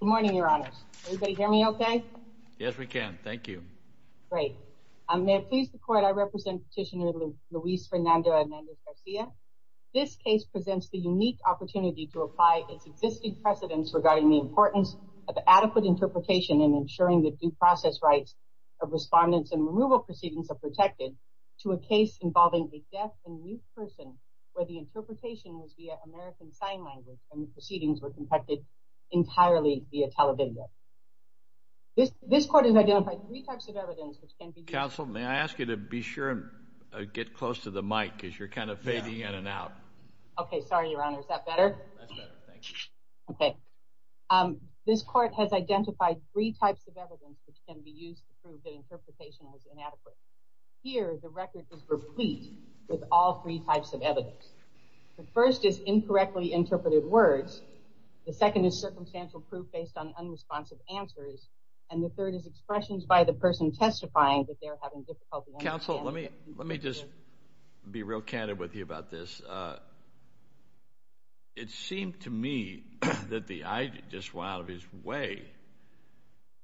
Good morning, your honors. Can everybody hear me okay? Yes, we can. Thank you. Great. May it please the court, I represent Petitioner Luis Fernando Hernández-Garcia. This case presents the unique opportunity to apply its existing precedents regarding the importance of adequate interpretation and ensuring that due process rights of respondents and removal proceedings are protected to a case involving a deaf and mute person where the interpretation was via American Sign Language and the interpretation was entirely via television. This court has identified three types of evidence which can be used to prove that interpretation was inadequate. Counsel, may I ask you to be sure to get close to the mic because you're kind of fading in and out. Okay, sorry, your honor. Is that better? That's better, thank you. Okay. This court has identified three types of evidence which can be used to prove that interpretation was inadequate. Here, the record is replete with all three types of evidence. The first is incorrectly interpreted words. The second is circumcised words. The third is circumstantial proof based on unresponsive answers. And the third is expressions by the person testifying that they're having difficulty understanding. Counsel, let me just be real candid with you about this. It seemed to me that the idea just went out of his way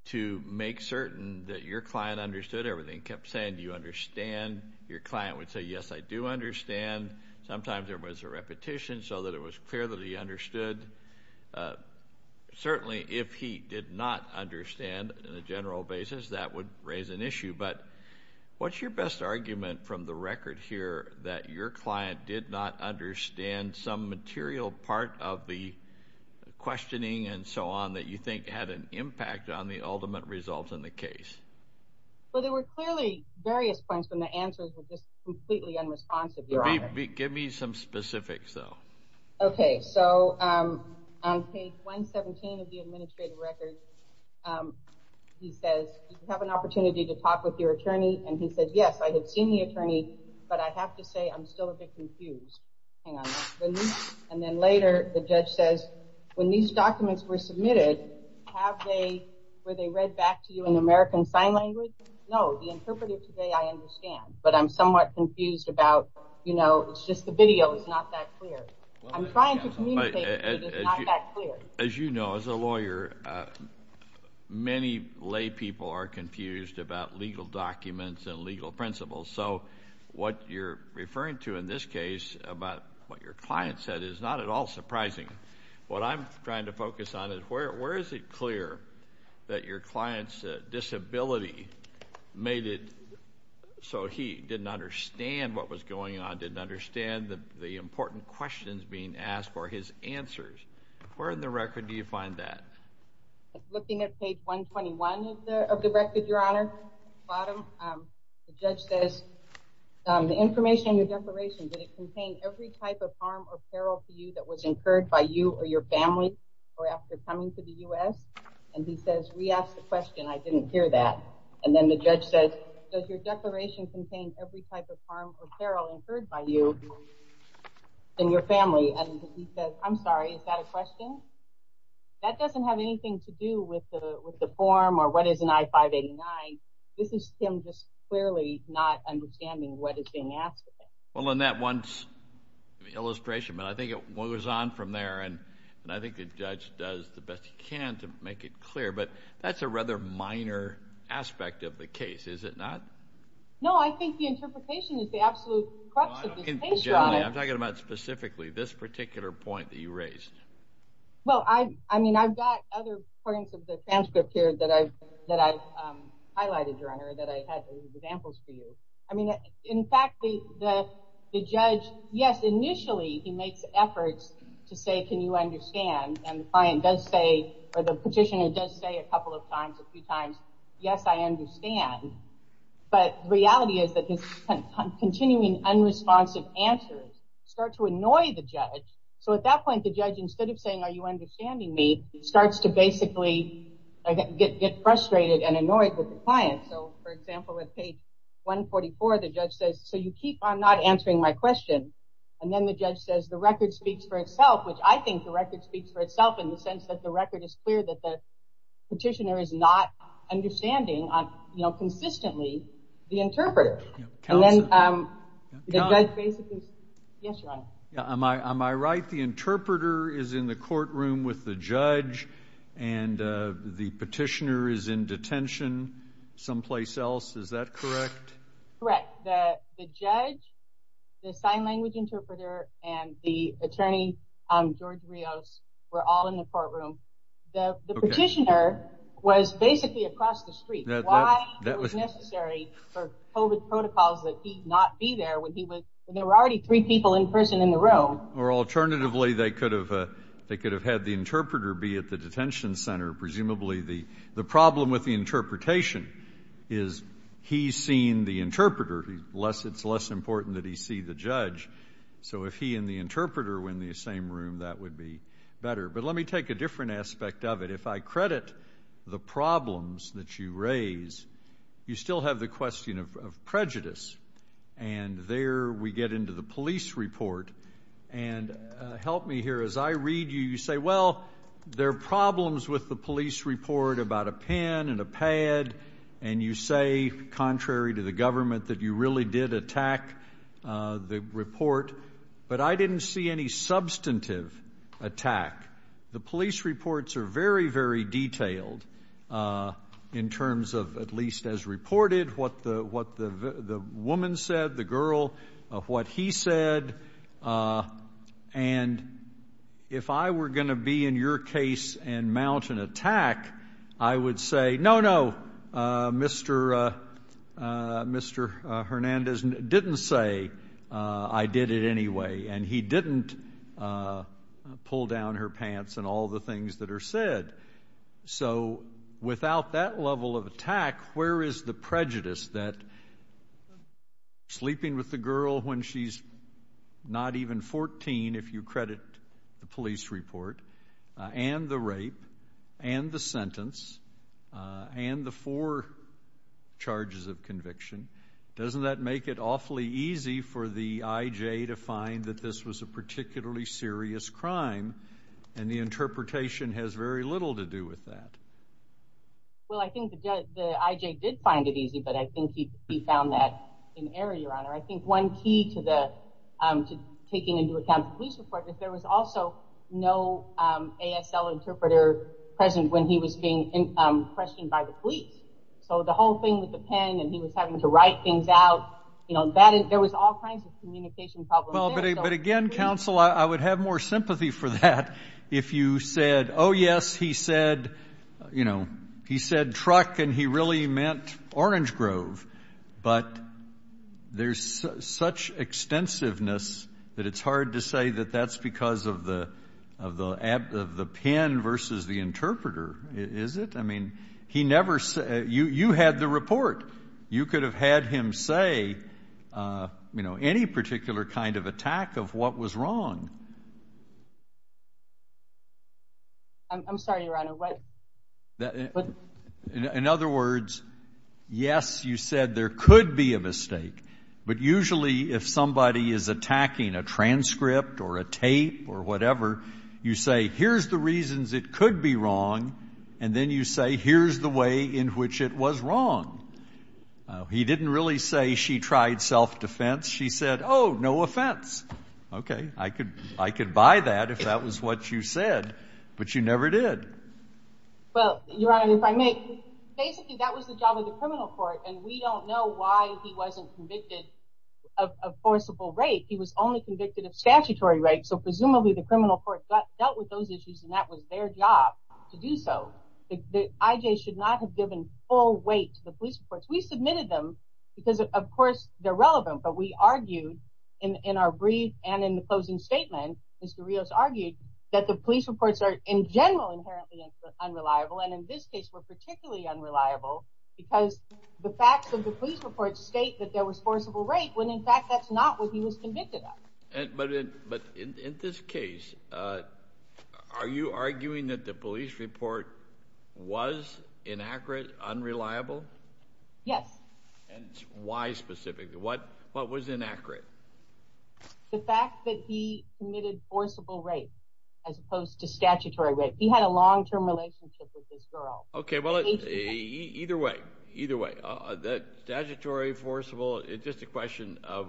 to make certain that your client understood everything, kept saying, do you understand? Your client would say, yes, I do understand. Sometimes there was a repetition so that it was clear that he understood. Certainly, if he did not understand in a general basis, that would raise an issue. But what's your best argument from the record here that your client did not understand some material part of the questioning and so on that you think had an impact on the ultimate result in the case? Well, there were clearly various points when the answers were just completely unresponsive, your honor. Give me some specifics, though. Okay, so on page 117 of the administrative record, he says, do you have an opportunity to talk with your attorney? And he said, yes, I have seen the attorney, but I have to say I'm still a bit confused. Hang on. And then later, the judge says, when these documents were submitted, were they read back to you in American Sign Language? No, the interpreter today, I understand, but I'm somewhat confused about, you know, it's just the video is not that clear. I'm trying to communicate, but it's not that clear. As you know, as a lawyer, many lay people are confused about legal documents and legal principles. So what you're referring to in this case about what your client said is not at all surprising. What I'm trying to focus on is where is it clear that your client's disability made it so he didn't understand what was going on, didn't understand the important questions being asked or his answers? Where in the record do you find that? Looking at page 121 of the record, Your Honor, the judge says, the information in your declaration, did it contain every type of harm or peril to you that was incurred by you or your family or after coming to the U.S.? And he says, re-ask the question. I didn't hear that. And then the judge says, does your declaration contain every type of harm or peril incurred by you and your family? And he says, I'm sorry, is that a question? That doesn't have anything to do with the form or what is an I-589. This is him just clearly not understanding what is being asked of him. Well, and that one's an illustration, but I think it goes on from there. And I think the judge does the best he can to make it clear. But that's a rather minor aspect of the case, is it not? No, I think the interpretation is the absolute crux of the case, Your Honor. I'm talking about specifically this particular point that you raised. Well, I mean, I've got other points of the transcript here that I've highlighted, Your Honor, that I had as examples for you. I mean, in fact, the judge, yes, initially he makes efforts to say, can you understand? And the client does say, or the petitioner does say a couple of times, a few times, yes, I understand. But the reality is that his continuing unresponsive answers start to annoy the judge. So at that point, the judge, instead of saying, are you understanding me, starts to basically get frustrated and annoyed with the client. So, for example, at page 144, the judge says, so you keep on not answering my question. And then the judge says, the record speaks for itself, which I think the record speaks for itself in the sense that the record is clear that the petitioner is not understanding consistently the interpreter. Counsel. Yes, Your Honor. Am I right? The interpreter is in the courtroom with the judge, and the petitioner is in detention someplace else. Is that correct? Correct. The judge, the sign language interpreter, and the attorney, George Rios, were all in the courtroom. The petitioner was basically across the street. Why was it necessary for COVID protocols that he not be there when there were already three people in person in the room? Or alternatively, they could have had the interpreter be at the detention center. Presumably the problem with the interpretation is he's seen the interpreter. It's less important that he see the judge. So if he and the interpreter were in the same room, that would be better. But let me take a different aspect of it. If I credit the problems that you raise, you still have the question of prejudice. And there we get into the police report. And help me here. As I read you, you say, well, there are problems with the police report about a pen and a pad. And you say, contrary to the government, that you really did attack the report. But I didn't see any substantive attack. The police reports are very, very detailed in terms of at least as reported what the woman said, the girl, what he said. And if I were going to be in your case and mount an attack, I would say, no, no, Mr. Hernandez didn't say I did it anyway. And he didn't pull down her pants and all the things that are said. So without that level of attack, where is the prejudice that sleeping with the girl when she's not even 14, if you credit the police report, and the rape, and the sentence, and the four charges of conviction, doesn't that make it awfully easy for the IJ to find that this was a particularly serious crime? And the interpretation has very little to do with that. Well, I think the IJ did find it easy, but I think he found that in error, Your Honor. I think one key to taking into account the police report is there was also no ASL interpreter present when he was being questioned by the police. So the whole thing with the pen and he was having to write things out, you know, there was all kinds of communication problems there. But, again, counsel, I would have more sympathy for that if you said, oh, yes, he said, you know, he said truck and he really meant Orange Grove. But there's such extensiveness that it's hard to say that that's because of the pen versus the interpreter, is it? I mean, you had the report. You could have had him say, you know, any particular kind of attack of what was wrong. I'm sorry, Your Honor. In other words, yes, you said there could be a mistake, but usually if somebody is attacking a transcript or a tape or whatever, you say, here's the reasons it could be wrong, and then you say, here's the way in which it was wrong. He didn't really say she tried self-defense. She said, oh, no offense. Okay, I could buy that if that was what you said, but you never did. Well, Your Honor, if I may, basically that was the job of the criminal court, and we don't know why he wasn't convicted of forcible rape. He was only convicted of statutory rape, so presumably the criminal court dealt with those issues, and that was their job to do so. The IJ should not have given full weight to the police reports. We submitted them because, of course, they're relevant, but we argued in our brief and in the closing statement, Mr. Rios argued that the police reports are in general inherently unreliable, and in this case were particularly unreliable because the facts of the police reports state that there was forcible rape when, in fact, that's not what he was convicted of. But in this case, are you arguing that the police report was inaccurate, unreliable? Yes. And why specifically? What was inaccurate? The fact that he committed forcible rape as opposed to statutory rape. He had a long-term relationship with this girl. Okay, well, either way, either way, statutory, forcible, it's just a question of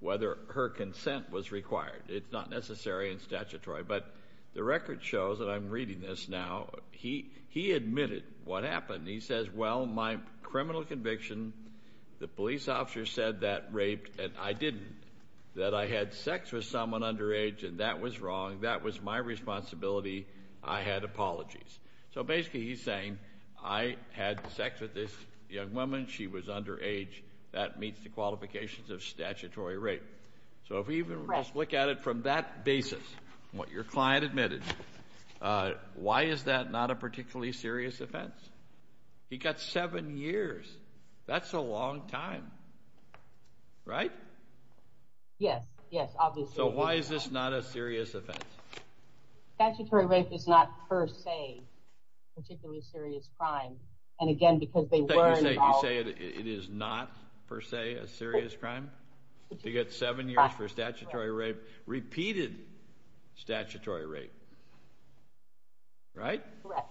whether her consent was required. It's not necessary and statutory, but the record shows, and I'm reading this now, he admitted what happened. He says, well, my criminal conviction, the police officer said that raped, and I didn't, that I had sex with someone underage, and that was wrong. That was my responsibility. I had apologies. So basically he's saying I had sex with this young woman. She was underage. That meets the qualifications of statutory rape. So if we even just look at it from that basis, what your client admitted, why is that not a particularly serious offense? He got seven years. That's a long time, right? Yes, yes, obviously. So why is this not a serious offense? Statutory rape is not per se a particularly serious crime, and again, because they were involved. You say it is not per se a serious crime? He got seven years for statutory rape, repeated statutory rape, right? Correct.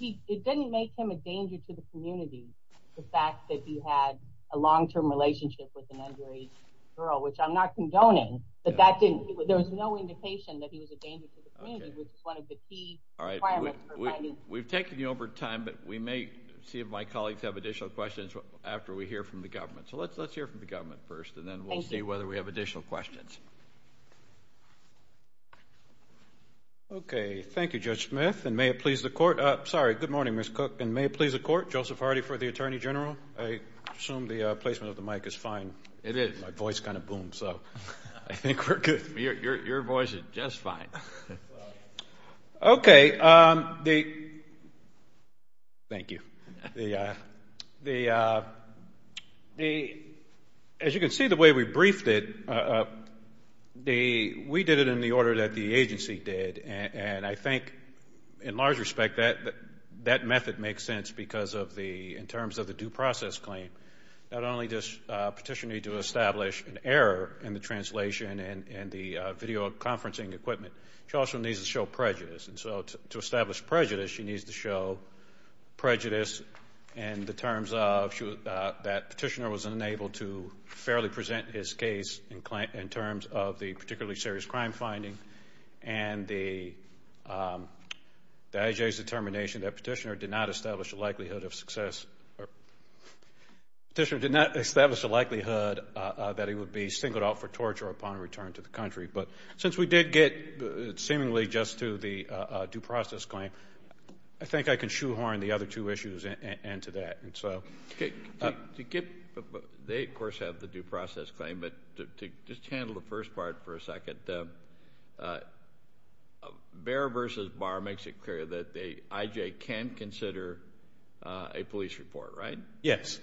It didn't make him a danger to the community, the fact that he had a long-term relationship with an underage girl, which I'm not condoning, but that didn't, there was no indication that he was a danger to the community, which is one of the key requirements provided. We've taken you over time, but we may see if my colleagues have additional questions after we hear from the government. So let's hear from the government first, and then we'll see whether we have additional questions. Okay, thank you, Judge Smith, and may it please the Court. Sorry, good morning, Ms. Cook, and may it please the Court, Joseph Hardy for the Attorney General. I assume the placement of the mic is fine. It is. My voice kind of boomed, so I think we're good. Your voice is just fine. Okay. Thank you. As you can see, the way we briefed it, we did it in the order that the agency did, and I think in large respect that method makes sense because of the, in terms of the due process claim, not only does a petitioner need to establish an error in the translation and the videoconferencing equipment, she also needs to show prejudice, and so to establish prejudice, she needs to show prejudice in the terms of that petitioner was unable to fairly present his case in terms of the particularly serious crime finding, and the IJA's determination that petitioner did not establish a likelihood of success, petitioner did not establish a likelihood that he would be singled out for torture upon return to the country. But since we did get seemingly just to the due process claim, I think I can shoehorn the other two issues into that. They, of course, have the due process claim, but to just handle the first part for a second, Behr v. Barr makes it clear that the IJA can consider a police report, right? Yes.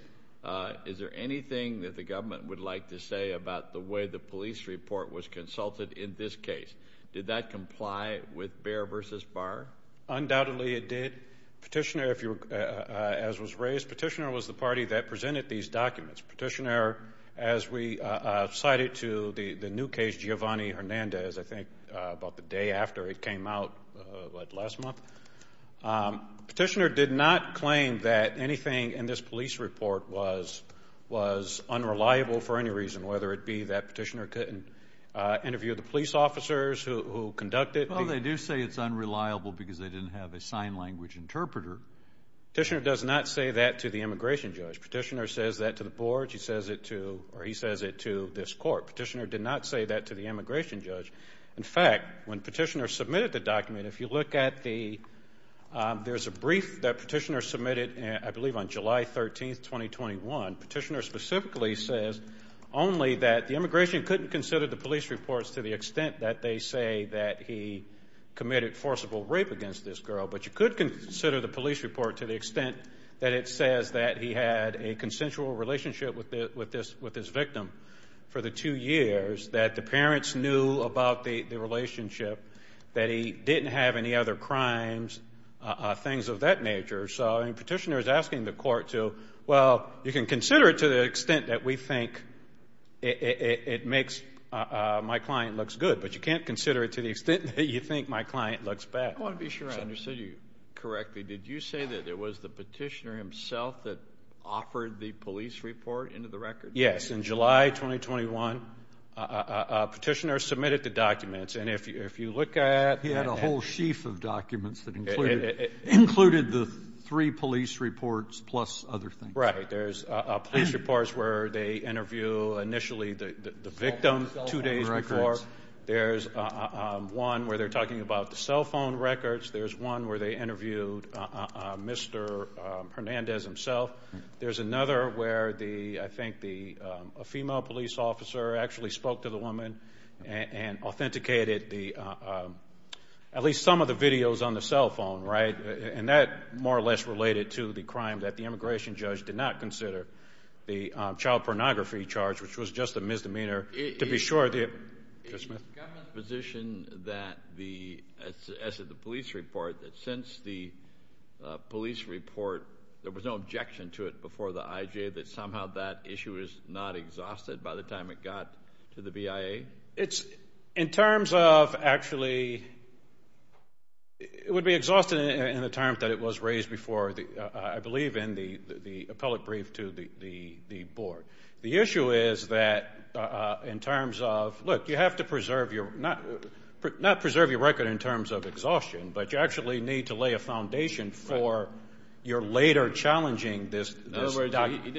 Is there anything that the government would like to say about the way the police report was consulted in this case? Did that comply with Behr v. Barr? Undoubtedly, it did. Petitioner, as was raised, petitioner was the party that presented these documents. Petitioner, as we cited to the new case, Giovanni Hernandez, I think about the day after it came out last month, petitioner did not claim that anything in this police report was unreliable for any reason, whether it be that petitioner couldn't interview the police officers who conducted it. Well, they do say it's unreliable because they didn't have a sign language interpreter. Petitioner does not say that to the immigration judge. Petitioner says that to the board. She says it to or he says it to this court. Petitioner did not say that to the immigration judge. In fact, when petitioner submitted the document, if you look at the, there's a brief that petitioner submitted, I believe on July 13, 2021, petitioner specifically says only that the immigration couldn't consider the police reports to the extent that they say that he committed forcible rape against this girl. But you could consider the police report to the extent that it says that he had a consensual relationship with this victim for the two years, that the parents knew about the relationship, that he didn't have any other crimes, things of that nature. So petitioner is asking the court to, well, you can consider it to the extent that we think it makes my client looks good, but you can't consider it to the extent that you think my client looks bad. I want to be sure I understood you correctly. Did you say that it was the petitioner himself that offered the police report into the record? Yes. In July 2021, petitioner submitted the documents. He had a whole sheaf of documents that included the three police reports plus other things. Right. There's police reports where they interview initially the victim two days before. There's one where they're talking about the cell phone records. There's one where they interviewed Mr. Hernandez himself. There's another where I think a female police officer actually spoke to the woman and authenticated at least some of the videos on the cell phone, right? And that more or less related to the crime that the immigration judge did not consider, the child pornography charge, which was just a misdemeanor to be sure. Is the government's position that the police report, that since the police report, there was no objection to it before the IJ, that somehow that issue is not exhausted by the time it got to the BIA? It's in terms of actually it would be exhausted in the terms that it was raised before, I believe, in the appellate brief to the board. The issue is that in terms of, look, you have to preserve your, not preserve your record in terms of exhaustion, but you actually need to lay a foundation for your later challenging this document.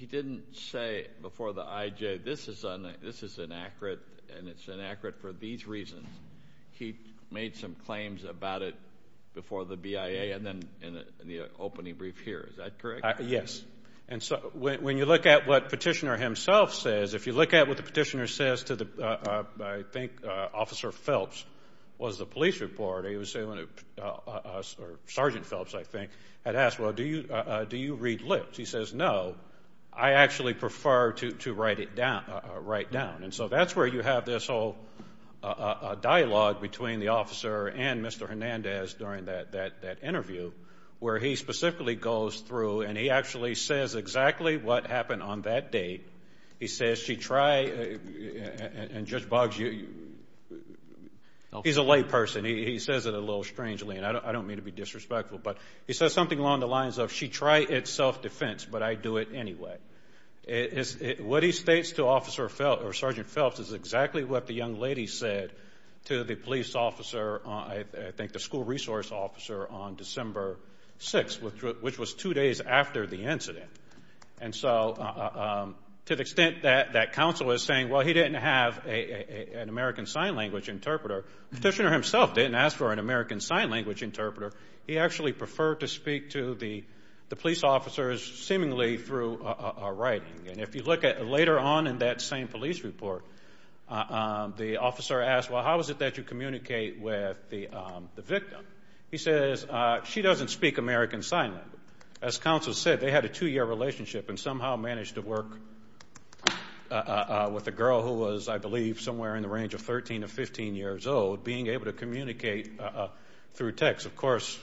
He didn't say before the IJ, this is inaccurate and it's inaccurate for these reasons. He made some claims about it before the BIA and then in the opening brief here. Is that correct? Yes. And so when you look at what Petitioner himself says, if you look at what the Petitioner says to the, I think Officer Phelps was the police report, or Sergeant Phelps, I think, had asked, well, do you read lips? He says, no, I actually prefer to write it down. And so that's where you have this whole dialogue between the officer and Mr. Hernandez during that interview, where he specifically goes through and he actually says exactly what happened on that date. He says, she tried, and Judge Boggs, he's a layperson. He says it a little strangely, and I don't mean to be disrespectful, but he says something along the lines of, she tried it self-defense, but I'd do it anyway. What he states to Officer Phelps or Sergeant Phelps is exactly what the young lady said to the police officer, I think the school resource officer, on December 6th, which was two days after the incident. And so to the extent that that counsel is saying, well, he didn't have an American Sign Language interpreter, Petitioner himself didn't ask for an American Sign Language interpreter. He actually preferred to speak to the police officers seemingly through writing. And if you look at later on in that same police report, the officer asked, well, how is it that you communicate with the victim? He says, she doesn't speak American Sign Language. As counsel said, they had a two-year relationship and somehow managed to work with a girl who was, I believe, somewhere in the range of 13 to 15 years old, being able to communicate through text. Of course,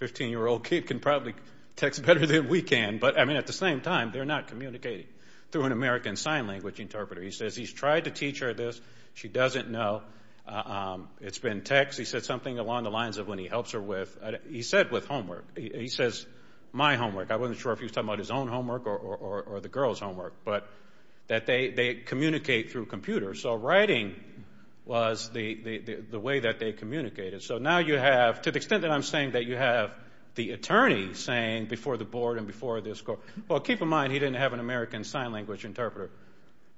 a 15-year-old kid can probably text better than we can. But, I mean, at the same time, they're not communicating through an American Sign Language interpreter. He says he's tried to teach her this. She doesn't know. It's been text. He said something along the lines of when he helps her with, he said with homework. He says, my homework. I wasn't sure if he was talking about his own homework or the girl's homework, but that they communicate through computers. So writing was the way that they communicated. So now you have, to the extent that I'm saying that you have the attorney saying before the board and before this court, well, keep in mind he didn't have an American Sign Language interpreter.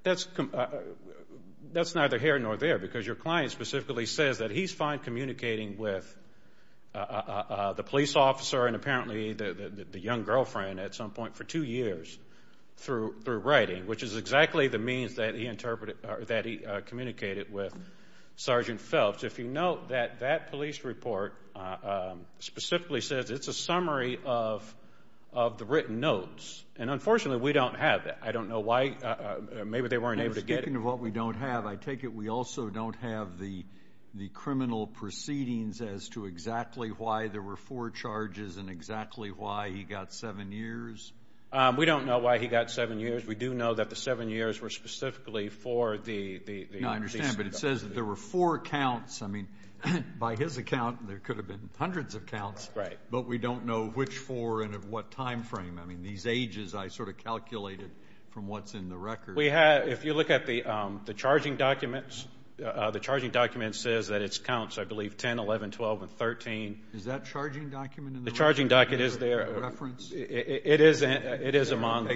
That's neither here nor there because your client specifically says that he's fine communicating with the police officer and apparently the young girlfriend at some point for two years through writing, which is exactly the means that he communicated with Sergeant Phelps. If you note that that police report specifically says it's a summary of the written notes, and unfortunately we don't have that. I don't know why. Maybe they weren't able to get it. Speaking of what we don't have, I take it we also don't have the criminal proceedings as to exactly why there were four charges and exactly why he got seven years? We don't know why he got seven years. We do know that the seven years were specifically for the police. I mean, I understand, but it says that there were four counts. I mean, by his account, there could have been hundreds of counts. Right. But we don't know which four and at what time frame. I mean, these ages I sort of calculated from what's in the record. If you look at the charging documents, the charging document says that it counts, I believe, 10, 11, 12, and 13. Is that charging document in the record? The charging document is there. Is it a reference? It is among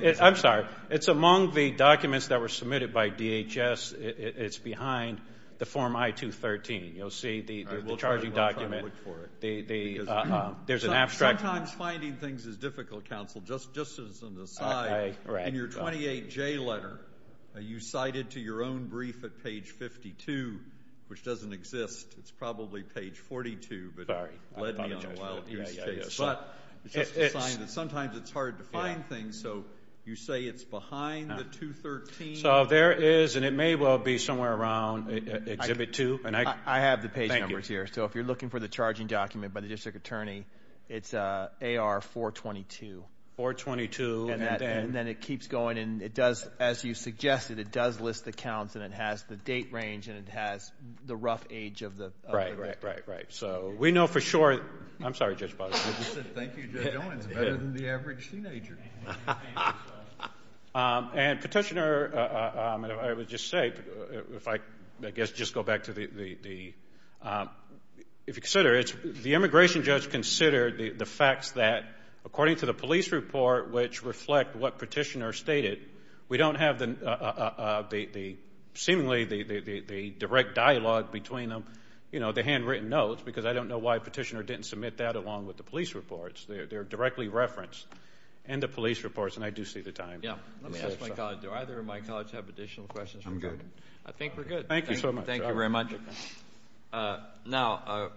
the documents that were submitted by DHS. It's behind the form I-213. You'll see the charging document. We'll try to look for it. There's an abstract. Sometimes finding things is difficult, counsel, just as an aside. In your 28J letter, you cited to your own brief at page 52, which doesn't exist. It's probably page 42, but it led me on a wild goose chase. But sometimes it's hard to find things, so you say it's behind the 213. So there is, and it may well be somewhere around Exhibit 2. I have the page numbers here. Thank you. So if you're looking for the charging document by the district attorney, it's AR-422. 422. And then it keeps going, and it does, as you suggested, it does list the counts, and it has the date range, and it has the rough age of the record. Right, right, right, right. So we know for sure. I'm sorry, Judge Potter. Thank you, Judge Owens. Better than the average teenager. And Petitioner, I would just say, if I, I guess, just go back to the, if you consider it, the immigration judge considered the facts that, according to the police report, which reflect what Petitioner stated, we don't have the, seemingly, the direct dialogue between them, you know, the handwritten notes, because I don't know why Petitioner didn't submit that along with the police reports. They're directly referenced. And the police reports, and I do see the time. Yeah. Let me ask my colleague. Do either of my colleagues have additional questions? I'm good. I think we're good. Thank you so much. Thank you very much. Now,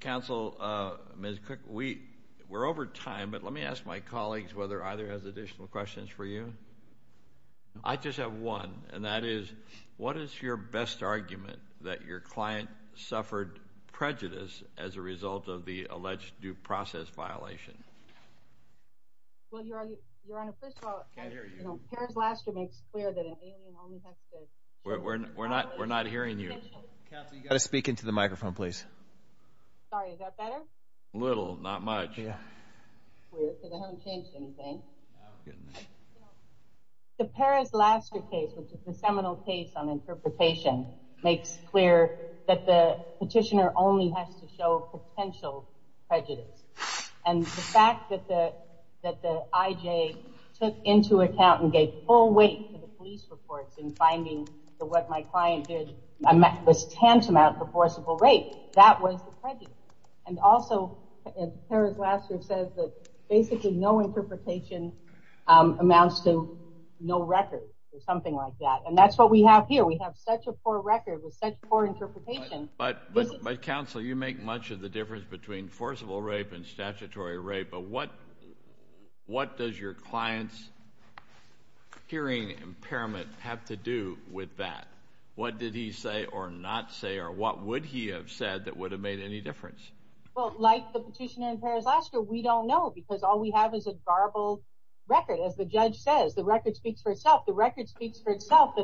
counsel, Ms. Cook, we're over time, but let me ask my colleagues whether either has additional questions for you. I just have one, and that is, what is your best argument that your client suffered prejudice as a result of the Well, Your Honor, first of all, Paris Laster makes clear that an alien only has to We're not hearing you. Counsel, you've got to speak into the microphone, please. Sorry, is that better? A little, not much. Because I haven't changed anything. Oh, goodness. The Paris Laster case, which is the seminal case on interpretation, makes clear that the Petitioner only has to show potential prejudice. And the fact that the IJ took into account and gave full weight to the police reports in finding that what my client did was tantamount to forcible rape, that was prejudice. And also, as Paris Laster says, that basically no interpretation amounts to no record or something like that. And that's what we have here. We have such a poor record with such poor interpretation. But, Counsel, you make much of the difference between forcible rape and statutory rape, but what does your client's hearing impairment have to do with that? What did he say or not say, or what would he have said that would have made any difference? Well, like the Petitioner and Paris Laster, we don't know because all we have is a garbled record. As the judge says, the record speaks for itself. The record speaks for itself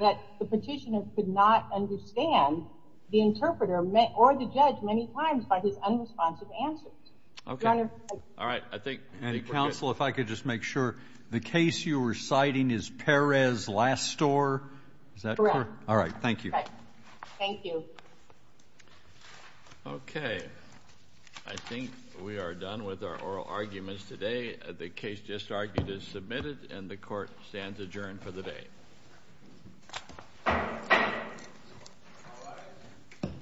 that the Petitioner could not understand the interpreter or the judge many times by his unresponsive answers. Okay. All right. I think we're good. And, Counsel, if I could just make sure, the case you were citing is Paris Laster? Is that correct? Correct. All right. Thank you. Thank you. Okay. I think we are done with our oral arguments today. The case just argued is submitted, and the Court stands adjourned for the day.